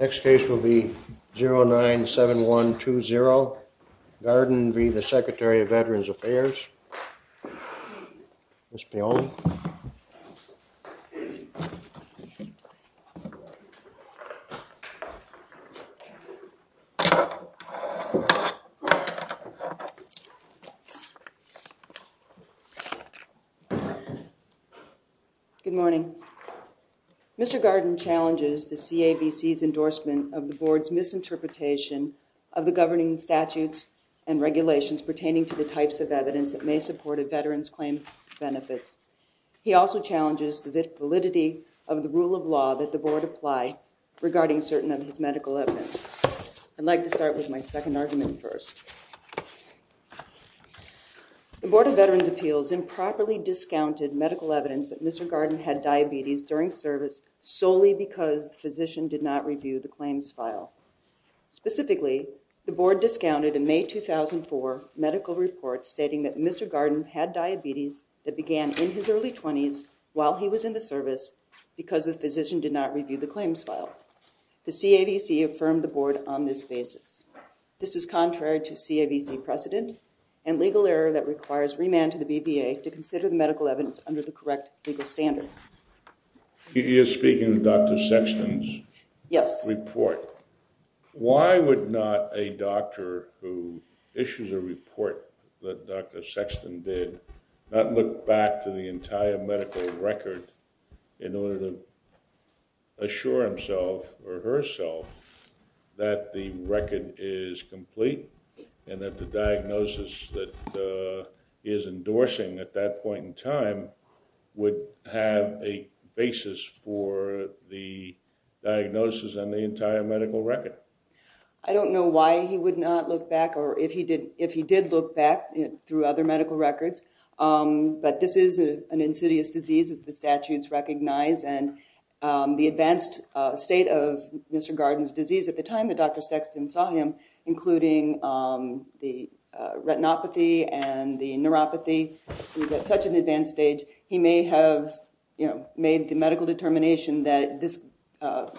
Next case will be 097120, Gardin v. the Secretary of Veterans Affairs, Ms. Piong. Good morning. Mr. Gardin challenges the CAVC's endorsement of the board's misinterpretation of the governing statutes and regulations pertaining to the types of evidence that may support a veteran's claim benefits. He also challenges the validity of the rule of law that the board apply regarding certain of his medical evidence. I'd like to start with my second argument first. The Board of Veterans Appeals improperly discounted medical evidence that Mr. Gardin had diabetes during service solely because the physician did not review the claims file. Specifically, the board discounted in May 2004 medical reports stating that Mr. Gardin had diabetes that began in his early 20s while he was in the service because the physician did not review the claims file. The CAVC affirmed the board on this basis. This is contrary to CAVC precedent and legal error that requires remand to the BVA to consider the medical evidence under the correct legal standard. You're speaking of Dr. Sexton's report. Why would not a doctor who issues a report that Dr. Sexton did not look back to the entire medical record in order to assure himself or herself that the record is complete and that the diagnosis that he is endorsing at that point in time would have a basis for the diagnosis on the entire medical record? I don't know why he would not look back or if he did look back through other medical records but this is an insidious disease as the statutes recognize and the advanced state of Mr. Gardin's disease at the time that Dr. Sexton saw him, including the retinopathy and the neuropathy, he was at such an advanced stage, he may have made the medical determination that this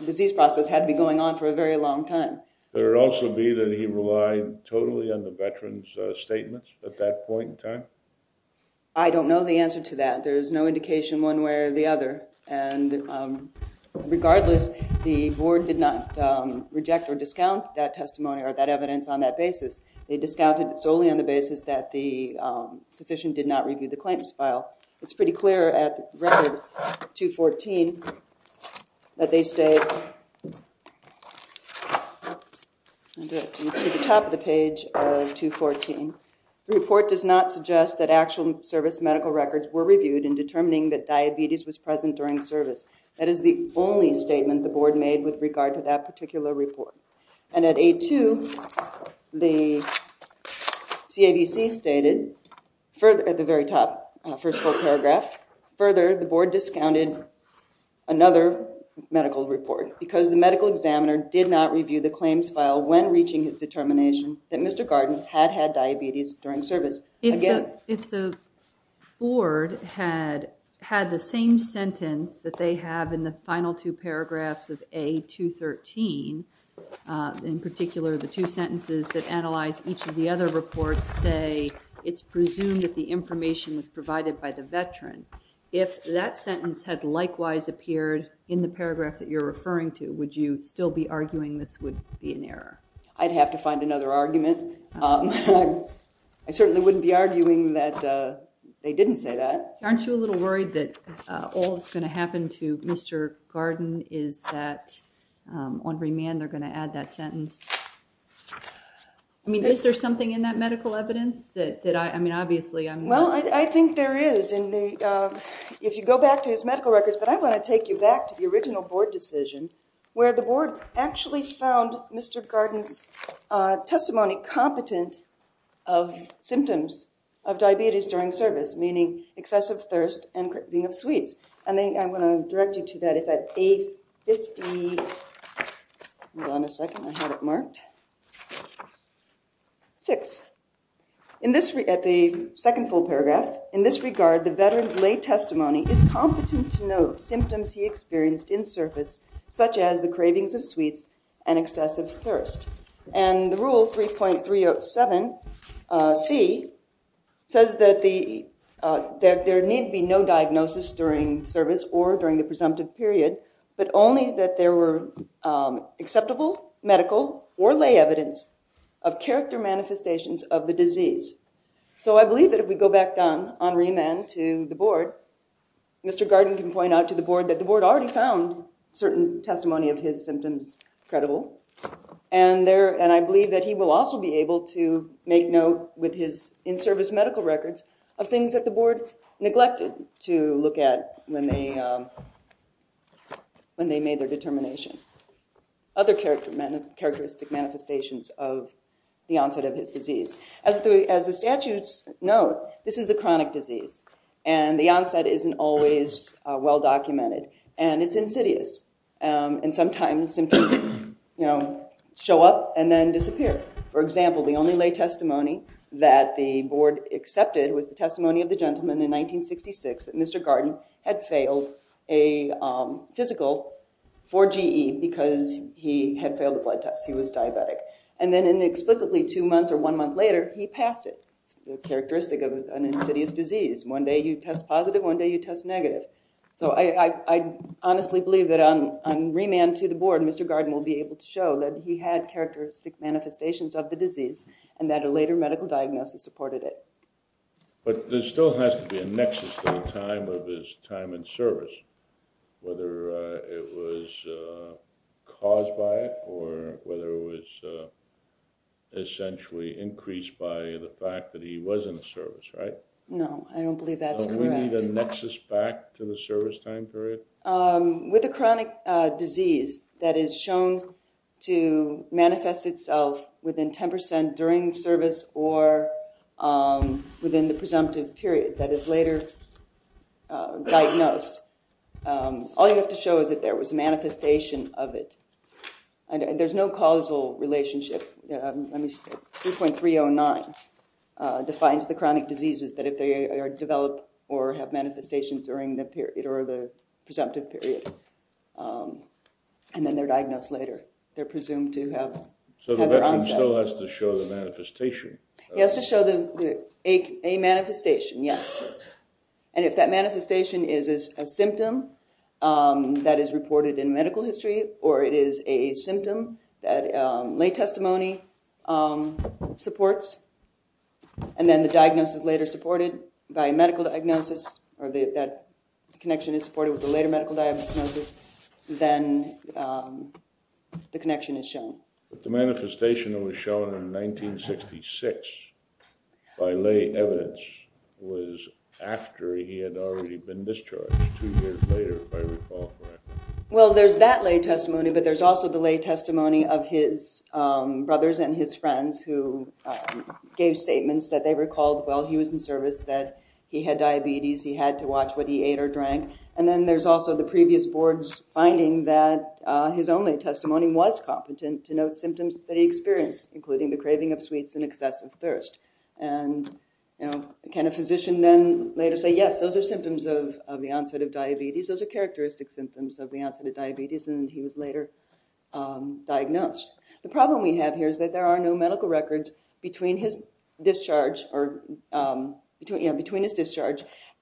disease process had to be going on for a very long time. There would also be that he relied totally on the veteran's statements at that point in time? I don't know the answer to that. There's no indication one way or the other and regardless, the board did not reject or discount that testimony or that evidence on that basis. They discounted solely on the basis that the physician did not review the claims file. It's pretty clear at record 214 that they state, to the top of the page of 214, the report does not suggest that actual service medical records were reviewed in determining that diabetes was present during service. That is the only statement the board made with regard to that particular report and at A2, the CAVC stated at the very top, first full paragraph, further, the board discounted another medical report because the medical examiner did not review the claims file when reaching his determination that Mr. Gardin had had diabetes during service. If the board had had the same sentence that they have in the final two paragraphs of A213, in particular the two sentences that analyze each of the other reports say it's presumed that the information was provided by the veteran, if that sentence had likewise appeared in the paragraph that you're referring to, would you still be arguing this would be an error? I'd have to find another argument. I certainly wouldn't be arguing that they didn't say that. Aren't you a little worried that all that's going to happen to Mr. Gardin is that on remand they're going to add that sentence? I mean, is there something in that medical evidence that I, I mean, obviously I'm not... Well, I think there is in the, if you go back to his medical records, but I want to take you back to the original board decision where the board actually found Mr. Gardin's testimony competent of symptoms of diabetes during service, meaning excessive thirst and craving of sweets. And then I'm going to direct you to that, it's at A50, hold on a second, I had it marked, six. In this, at the second full paragraph, in this regard, the veteran's lay testimony is competent to note symptoms he experienced in service, such as the cravings of sweets and excessive thirst. And the rule 3.307c says that the, that there need be no diagnosis during service or during the presumptive period, but only that there were acceptable medical or lay evidence of character manifestations of the disease. So I believe that if we go back on, on remand to the board, Mr. Gardin can point out to the board that the board already found certain testimony of his symptoms credible, and there, and I believe that he will also be able to make note with his in-service medical records of things that the board neglected to look at when they, when they made their determination. Other characteristic manifestations of the onset of his disease. As the, as the statutes note, this is a chronic disease, and the onset isn't always well documented, and it's insidious, and sometimes symptoms, you know, show up and then disappear. For example, the only lay testimony that the board accepted was the testimony of the gentleman in 1966 that Mr. Gardin had failed a physical for GE because he had failed a blood test, he was diabetic. And then inexplicably, two months or one month later, he passed it, the characteristic of an insidious disease. One day you test positive, one day you test negative. So I honestly believe that on remand to the board, Mr. Gardin will be able to show that he had characteristic manifestations of the disease, and that a later medical diagnosis supported it. But there still has to be a nexus at the time of his time in service, whether it was caused by it, or whether it was essentially increased by the fact that he was in the service, right? No, I don't believe that's correct. Do we need a nexus back to the service time period? With a chronic disease that is shown to manifest itself within 10% during service or within the presumptive period that is later diagnosed, all you have to show is that there was a manifestation of it. There's no causal relationship. 3.309 defines the chronic diseases that if they are developed or have manifestations during the presumptive period, and then they're diagnosed later, they're presumed to have their onset. So the veteran still has to show the manifestation? He has to show a manifestation, yes, and if that manifestation is a symptom that is reported in medical history, or it is a symptom that lay testimony supports, and then the diagnosis later supported by medical diagnosis, or that connection is supported with a later medical diagnosis, then the connection is shown. But the manifestation that was shown in 1966 by lay evidence was after he had already been discharged two years later, if I recall correctly. Well, there's that lay testimony, but there's also the lay testimony of his brothers and his friends who gave statements that they recalled while he was in service that he had diabetes, he had to watch what he ate or drank, and then there's also the previous board's finding that his own lay testimony was competent to note symptoms that he experienced, including the craving of sweets and excessive thirst. And can a physician then later say, yes, those are symptoms of the onset of diabetes, those are characteristic symptoms of the onset of diabetes, and he was later diagnosed? The problem we have here is that there are no medical records between his discharge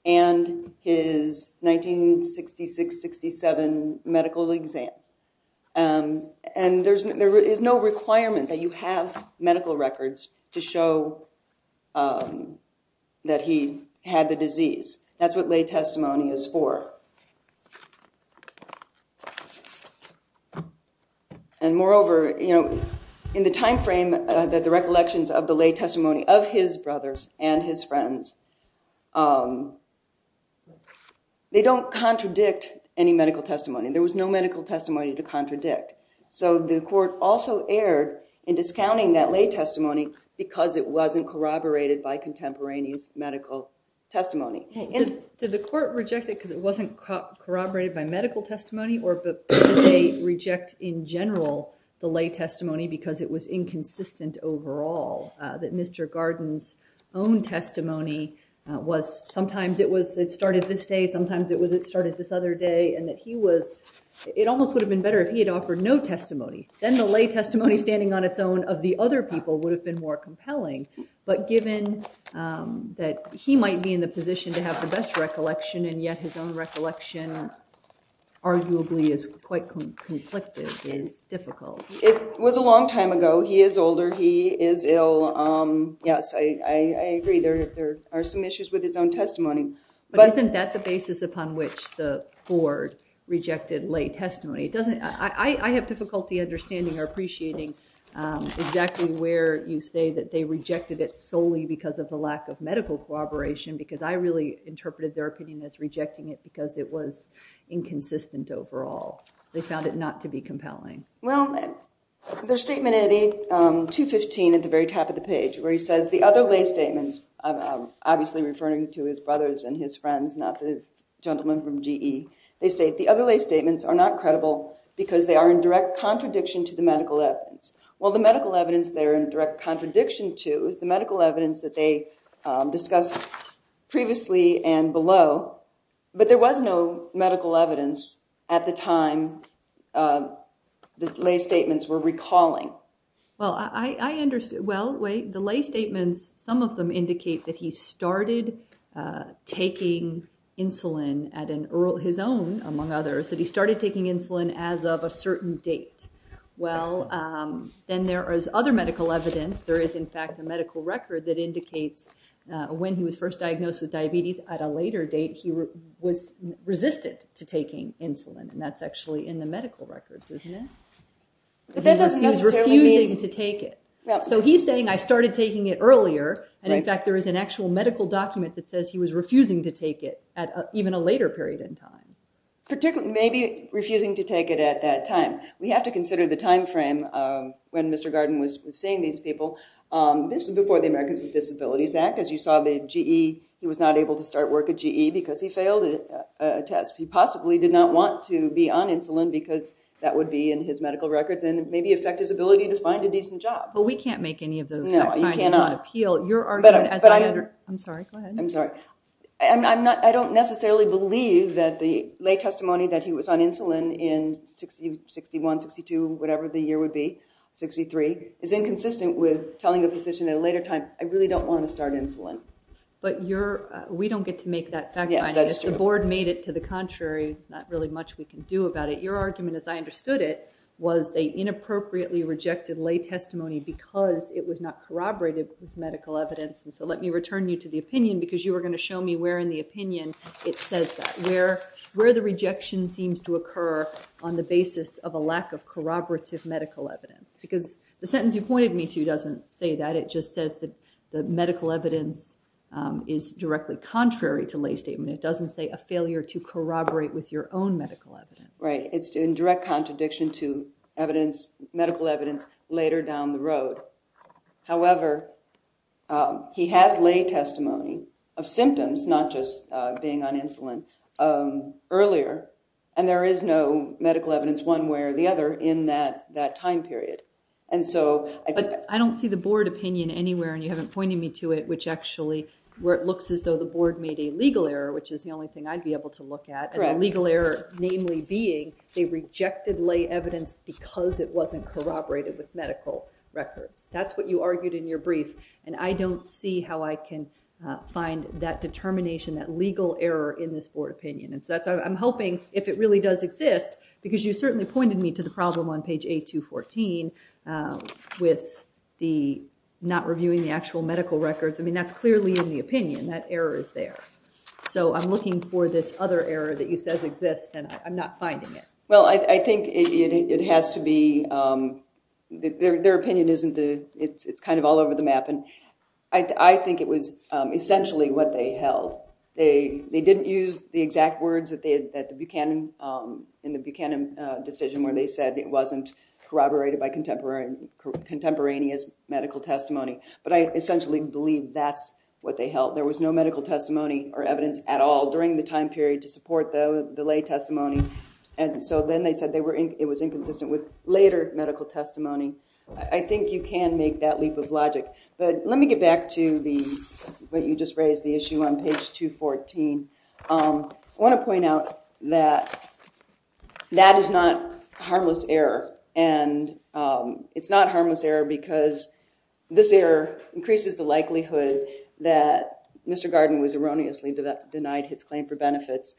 and his 1966-67 medical exam, and there is no requirement that you have medical records to show that he had the disease. That's what lay testimony is for. And moreover, in the time frame that the recollections of the lay testimony of his brothers and his friends, they don't contradict any medical testimony. There was no medical testimony to contradict. So the court also erred in discounting that lay testimony because it wasn't corroborated by contemporaneous medical testimony. Did the court reject it because it wasn't corroborated by medical testimony, or did they reject in general the lay testimony because it was inconsistent overall, that Mr. Garden's own testimony was sometimes it started this day, sometimes it started this other day, and that he was, it almost would have been better if he had offered no testimony. Then the lay testimony standing on its own of the other people would have been more compelling. But given that he might be in the position to have the best recollection, and yet his own recollection arguably is quite conflicted, it's difficult. It was a long time ago. He is older. He is ill. Yes, I agree. There are some issues with his own testimony. But isn't that the basis upon which the court rejected lay testimony? I have difficulty understanding or appreciating exactly where you say that they rejected it solely because of the lack of medical corroboration because I really interpreted their opinion as rejecting it because it was inconsistent overall. They found it not to be compelling. Well, their statement at 215 at the very top of the page where he says, the other lay statements, obviously referring to his brothers and his friends, not the gentleman from GE, they state, the other lay statements are not credible because they are in direct contradiction to the medical evidence. Well, the medical evidence they are in direct contradiction to is the medical evidence that they discussed previously and below. But there was no medical evidence at the time the lay statements were recalling. Well, I understand. Well, the lay statements, some of them indicate that he started taking insulin at his own condition, among others, that he started taking insulin as of a certain date. Well, then there is other medical evidence. There is in fact a medical record that indicates when he was first diagnosed with diabetes at a later date, he was resistant to taking insulin. And that's actually in the medical records, isn't it? But that doesn't necessarily mean... He was refusing to take it. So he's saying, I started taking it earlier. And in fact, there is an actual medical document that says he was refusing to take it at even a later period in time. Maybe refusing to take it at that time. We have to consider the timeframe of when Mr. Garden was seeing these people. This is before the Americans with Disabilities Act, as you saw the GE, he was not able to start work at GE because he failed a test. He possibly did not want to be on insulin because that would be in his medical records and maybe affect his ability to find a decent job. But we can't make any of those kind of an appeal. You're arguing as I... I'm sorry. Go ahead. I'm sorry. I'm not... I don't necessarily believe that the lay testimony that he was on insulin in 61, 62, whatever the year would be, 63, is inconsistent with telling a physician at a later time, I really don't want to start insulin. But you're... We don't get to make that fact-finding. Yes, that's true. If the board made it to the contrary, not really much we can do about it. Your argument, as I understood it, was they inappropriately rejected lay testimony because it was not corroborated with medical evidence. And so let me return you to the opinion because you were going to show me where in the opinion it says that, where the rejection seems to occur on the basis of a lack of corroborative medical evidence. Because the sentence you pointed me to doesn't say that. It just says that the medical evidence is directly contrary to lay statement. It doesn't say a failure to corroborate with your own medical evidence. Right. It's in direct contradiction to evidence, medical evidence, later down the road. However, he has lay testimony of symptoms, not just being on insulin, earlier. And there is no medical evidence one way or the other in that time period. And so... But I don't see the board opinion anywhere, and you haven't pointed me to it, which actually where it looks as though the board made a legal error, which is the only thing I'd be able to look at. Correct. And the legal error namely being they rejected lay evidence because it wasn't corroborated with medical records. That's what you argued in your brief. And I don't see how I can find that determination, that legal error in this board opinion. And so I'm hoping if it really does exist, because you certainly pointed me to the problem on page A214 with the not reviewing the actual medical records. I mean, that's clearly in the opinion. That error is there. So I'm looking for this other error that you said exists, and I'm not finding it. Well, I think it has to be... Their opinion isn't the... It's kind of all over the map. And I think it was essentially what they held. They didn't use the exact words that they had in the Buchanan decision where they said it wasn't corroborated by contemporaneous medical testimony. But I essentially believe that's what they held. There was no medical testimony or evidence at all during the time period to support the lay testimony. And so then they said it was inconsistent with later medical testimony. I think you can make that leap of logic. But let me get back to what you just raised, the issue on page 214. I want to point out that that is not harmless error. And it's not harmless error because this error increases the likelihood that Mr. Garden was erroneously denied his claim for benefits.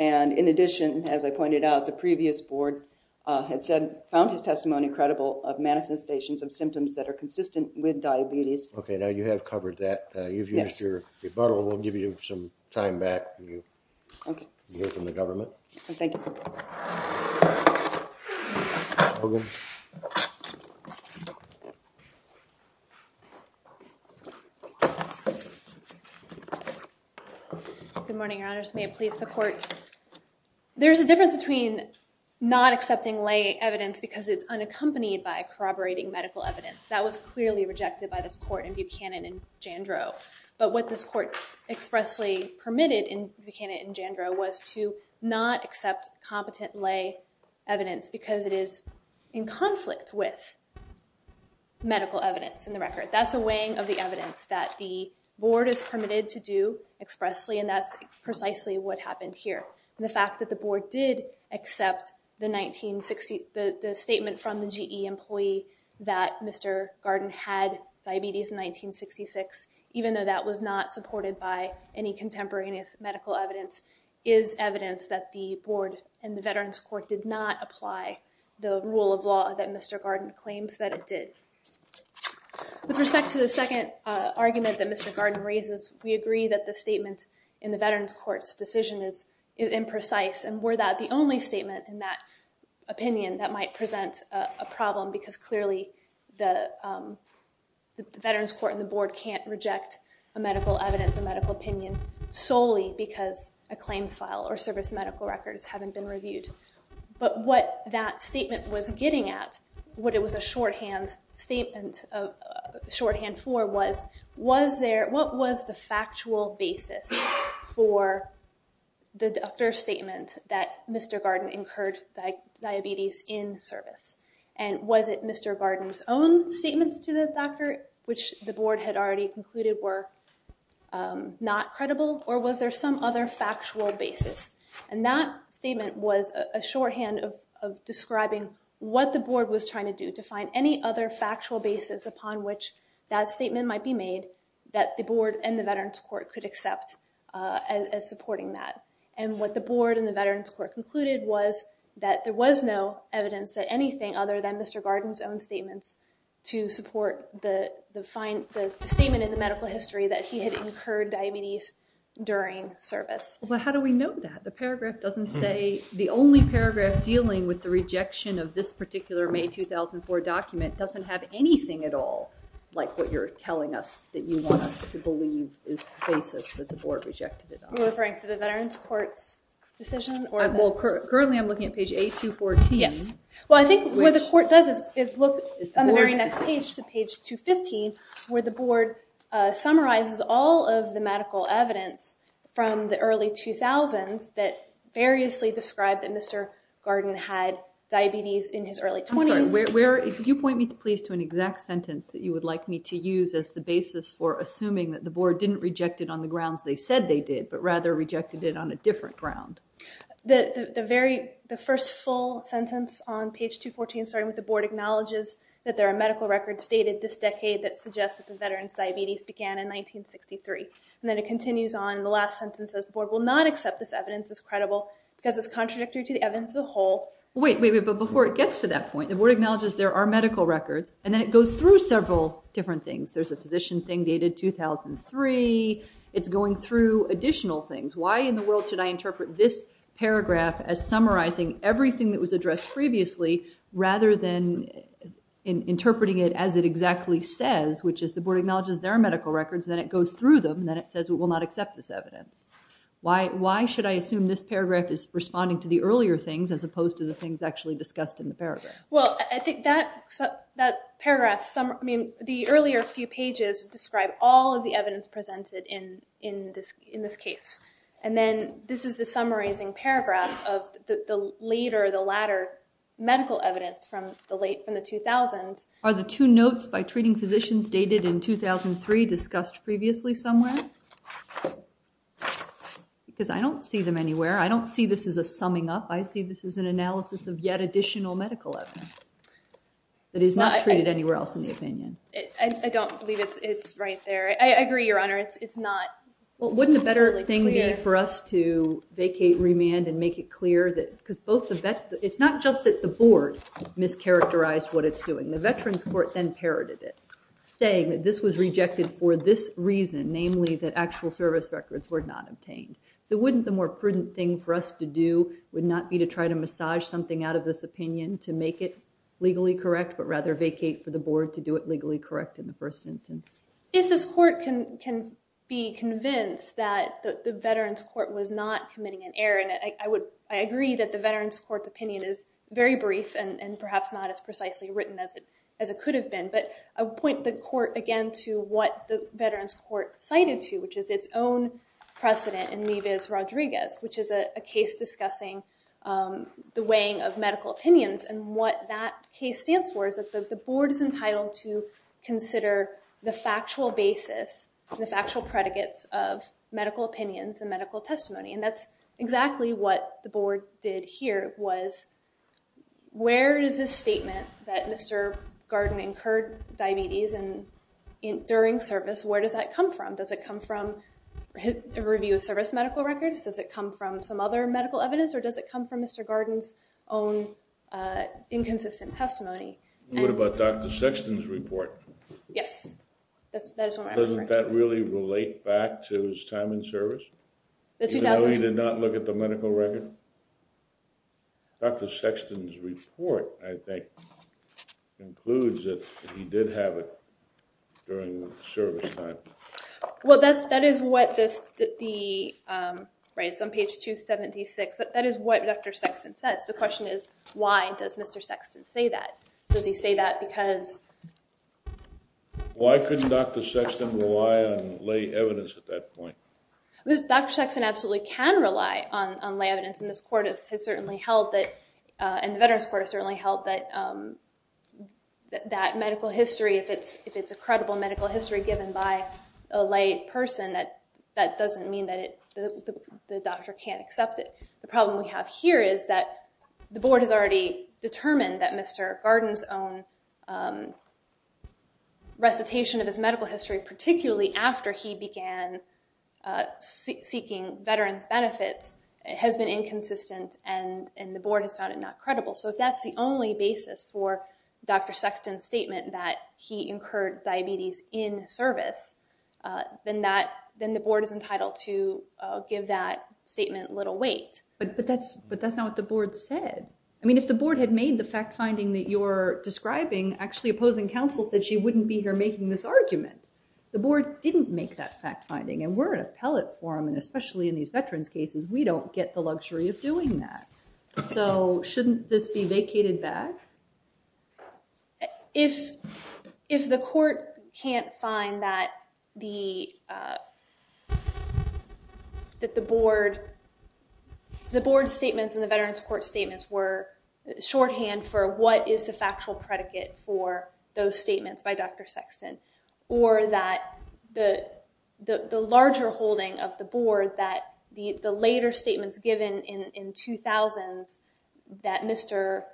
And in addition, as I pointed out, the previous board had said, found his testimony credible of manifestations of symptoms that are consistent with diabetes. Okay, now you have covered that. You've used your rebuttal. We'll give you some time back when you hear from the government. Thank you. Good morning, your honors. May it please the court. There's a difference between not accepting lay evidence because it's unaccompanied by corroborating medical evidence. That was clearly rejected by this court in Buchanan and Jandro. But what this court expressly permitted in Buchanan and Jandro was to not accept competent lay evidence because it is in conflict with medical evidence in the record. That's a weighing of the evidence that the board is permitted to do expressly. And that's precisely what happened here. The fact that the board did accept the statement from the GE employee that Mr. Garden had diabetes in 1966, even though that was not supported by any contemporary medical evidence, is evidence that the board and the Veterans Court did not apply the rule of law that Mr. Garden claims that it did. With respect to the second argument that Mr. Garden raises, we agree that the statement in the Veterans Court's decision is imprecise. And were that the only statement in that opinion that might present a problem? Because clearly, the Veterans Court and the board can't reject a medical evidence, a medical opinion, solely because a claims file or service medical records haven't been reviewed. But what that statement was getting at, what it was a shorthand for was, what was the factual basis for the doctor's statement that Mr. Garden incurred diabetes in service? And was it Mr. Garden's own statements to the doctor, which the board had already concluded were not credible? Or was there some other factual basis? And that statement was a shorthand of describing what the board was trying to do to find any other factual basis upon which that statement might be made that the board and the Veterans Court could accept as supporting that. And what the board and the Veterans Court concluded was that there was no evidence that there was anything other than Mr. Garden's own statements to support the statement in the medical history that he had incurred diabetes during service. But how do we know that? The paragraph doesn't say, the only paragraph dealing with the rejection of this particular May 2004 document doesn't have anything at all like what you're telling us that you want us to believe is the basis that the board rejected it on. Are you referring to the Veterans Court's decision? Well, currently I'm looking at page A214. Yes. Well, I think what the court does is look on the very next page to page 215, where the board summarizes all of the medical evidence from the early 2000s that variously described that Mr. Garden had diabetes in his early 20s. I'm sorry, where, if you point me please to an exact sentence that you would like me to use as the basis for assuming that the board didn't reject it on the grounds they said they did, but rather rejected it on a different ground. The very, the first full sentence on page 214 starting with the board acknowledges that there are medical records stated this decade that suggest that the veteran's diabetes began in 1963. And then it continues on, the last sentence says the board will not accept this evidence as credible because it's contradictory to the evidence as a whole. Wait, wait, but before it gets to that point, the board acknowledges there are medical records and then it goes through several different things. There's a physician thing dated 2003. It's going through additional things. Why in the world should I interpret this paragraph as summarizing everything that was addressed previously rather than interpreting it as it exactly says, which is the board acknowledges there are medical records, then it goes through them, then it says it will not accept this evidence. Why should I assume this paragraph is responding to the earlier things as opposed to the things actually discussed in the paragraph? Well, I think that paragraph, I mean, the earlier few pages describe all of the evidence presented in this case. And then this is the summarizing paragraph of the later, the latter medical evidence from the late, from the 2000s. Are the two notes by treating physicians dated in 2003 discussed previously somewhere? Because I don't see them anywhere. I don't see this as a summing up. I see this as an analysis of yet additional medical evidence that is not treated anywhere else in the opinion. I don't believe it's right there. I agree, Your Honor, it's not. Well, wouldn't the better thing be for us to vacate, remand, and make it clear that because it's not just that the board mischaracterized what it's doing. The Veterans Court then parroted it, saying that this was rejected for this reason, namely that actual service records were not obtained. So wouldn't the more prudent thing for us to do would not be to try to massage something out of this opinion to make it legally correct, but rather vacate for the board to do it legally correct in the first instance? If this court can be convinced that the Veterans Court was not committing an error, and I agree that the Veterans Court's opinion is very brief and perhaps not as precisely written as it could have been. But I would point the court again to what the Veterans Court cited to, which is its own precedent in Mivas-Rodriguez, which is a case discussing the weighing of medical opinions. And what that case stands for is that the board is entitled to consider the factual basis and the factual predicates of medical opinions and medical testimony. And that's exactly what the board did here, was where is this statement that Mr. Garden incurred diabetes during service? Where does that come from? Does it come from a review of service medical records? Does it come from some other medical evidence? Or does it come from Mr. Garden's own inconsistent testimony? What about Dr. Sexton's report? Yes, that is what I'm referring to. Doesn't that really relate back to his time in service? Even though he did not look at the medical record? Dr. Sexton's report, I think, includes that he did have it during service time. Well, that is what this, right, it's on page 276. That is what Dr. Sexton says. The question is, why does Mr. Sexton say that? Does he say that because? Why couldn't Dr. Sexton rely on lay evidence at that point? Dr. Sexton absolutely can rely on lay evidence. And the Veterans Court has certainly held that that medical history, if it's a credible medical history given by a lay person, that doesn't mean that the doctor can't accept it. The problem we have here is that the board has already determined that Mr. Garden's own recitation of his medical history, particularly after he began seeking veterans' benefits, has been inconsistent and the board has found it not credible. So if that's the only basis for Dr. Sexton's statement that he incurred diabetes in service, then the board is entitled to give that statement little weight. But that's not what the board said. I mean, if the board had made the fact-finding that you're describing, actually opposing counsel said she wouldn't be here making this argument. The board didn't make that fact-finding. And we're an appellate forum, and especially in these veterans' cases, we don't get the luxury of doing that. So shouldn't this be vacated back? If the court can't find that the board's statements in the Veterans Court statements were shorthand for what is the factual predicate for those statements by Dr. Sexton, or that the larger holding of the board that the later statements given in 2000s that Mr.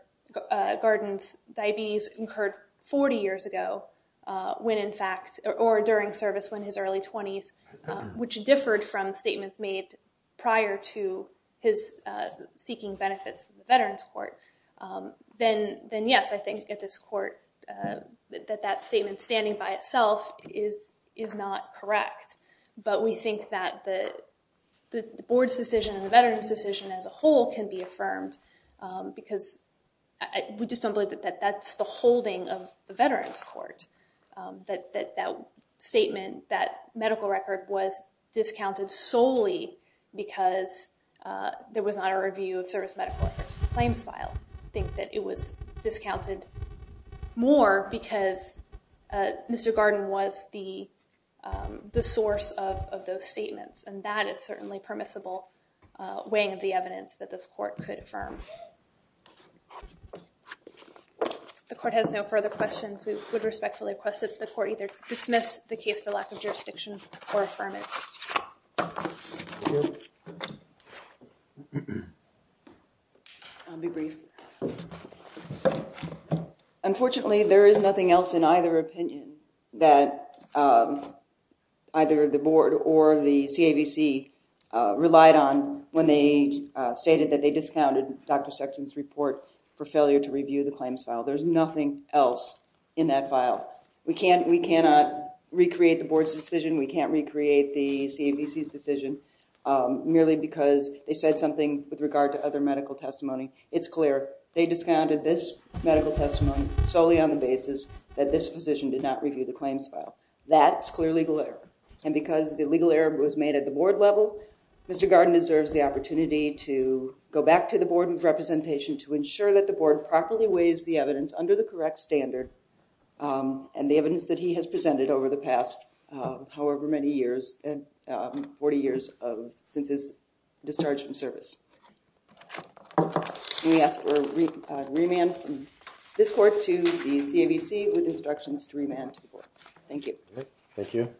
Garden's diabetes incurred 40 years ago, when in fact, or during service when his early 20s, which differed from statements made prior to his seeking benefits from the Veterans Court, then yes, I think at this court, that that statement standing by itself is not correct. But we think that the board's decision and the veterans' decision as a whole can be affirmed. Because we just don't believe that that's the holding of the Veterans Court. That statement, that medical record was discounted solely because there was not a review of service claims file. I think that it was discounted more because Mr. Garden was the source of those statements. And that is certainly permissible weighing of the evidence that this court could affirm. The court has no further questions. We would respectfully request that the court dismiss the case for lack of jurisdiction or affirmance. I'll be brief. Unfortunately, there is nothing else in either opinion that either the board or the CAVC relied on when they stated that they discounted Dr. Sexton's report for failure to review the claims file. We can't, we cannot recreate the board's decision. We can't recreate the CAVC's decision merely because they said something with regard to other medical testimony. It's clear they discounted this medical testimony solely on the basis that this physician did not review the claims file. That's clear legal error. And because the legal error was made at the board level, Mr. Garden deserves the opportunity to go back to the board of representation to ensure that the board properly weighs the evidence under the correct standard and the evidence that he has presented over the past however many years, 40 years since his discharge from service. We ask for remand from this court to the CAVC with instructions to remand to the board. Thank you. Thank you.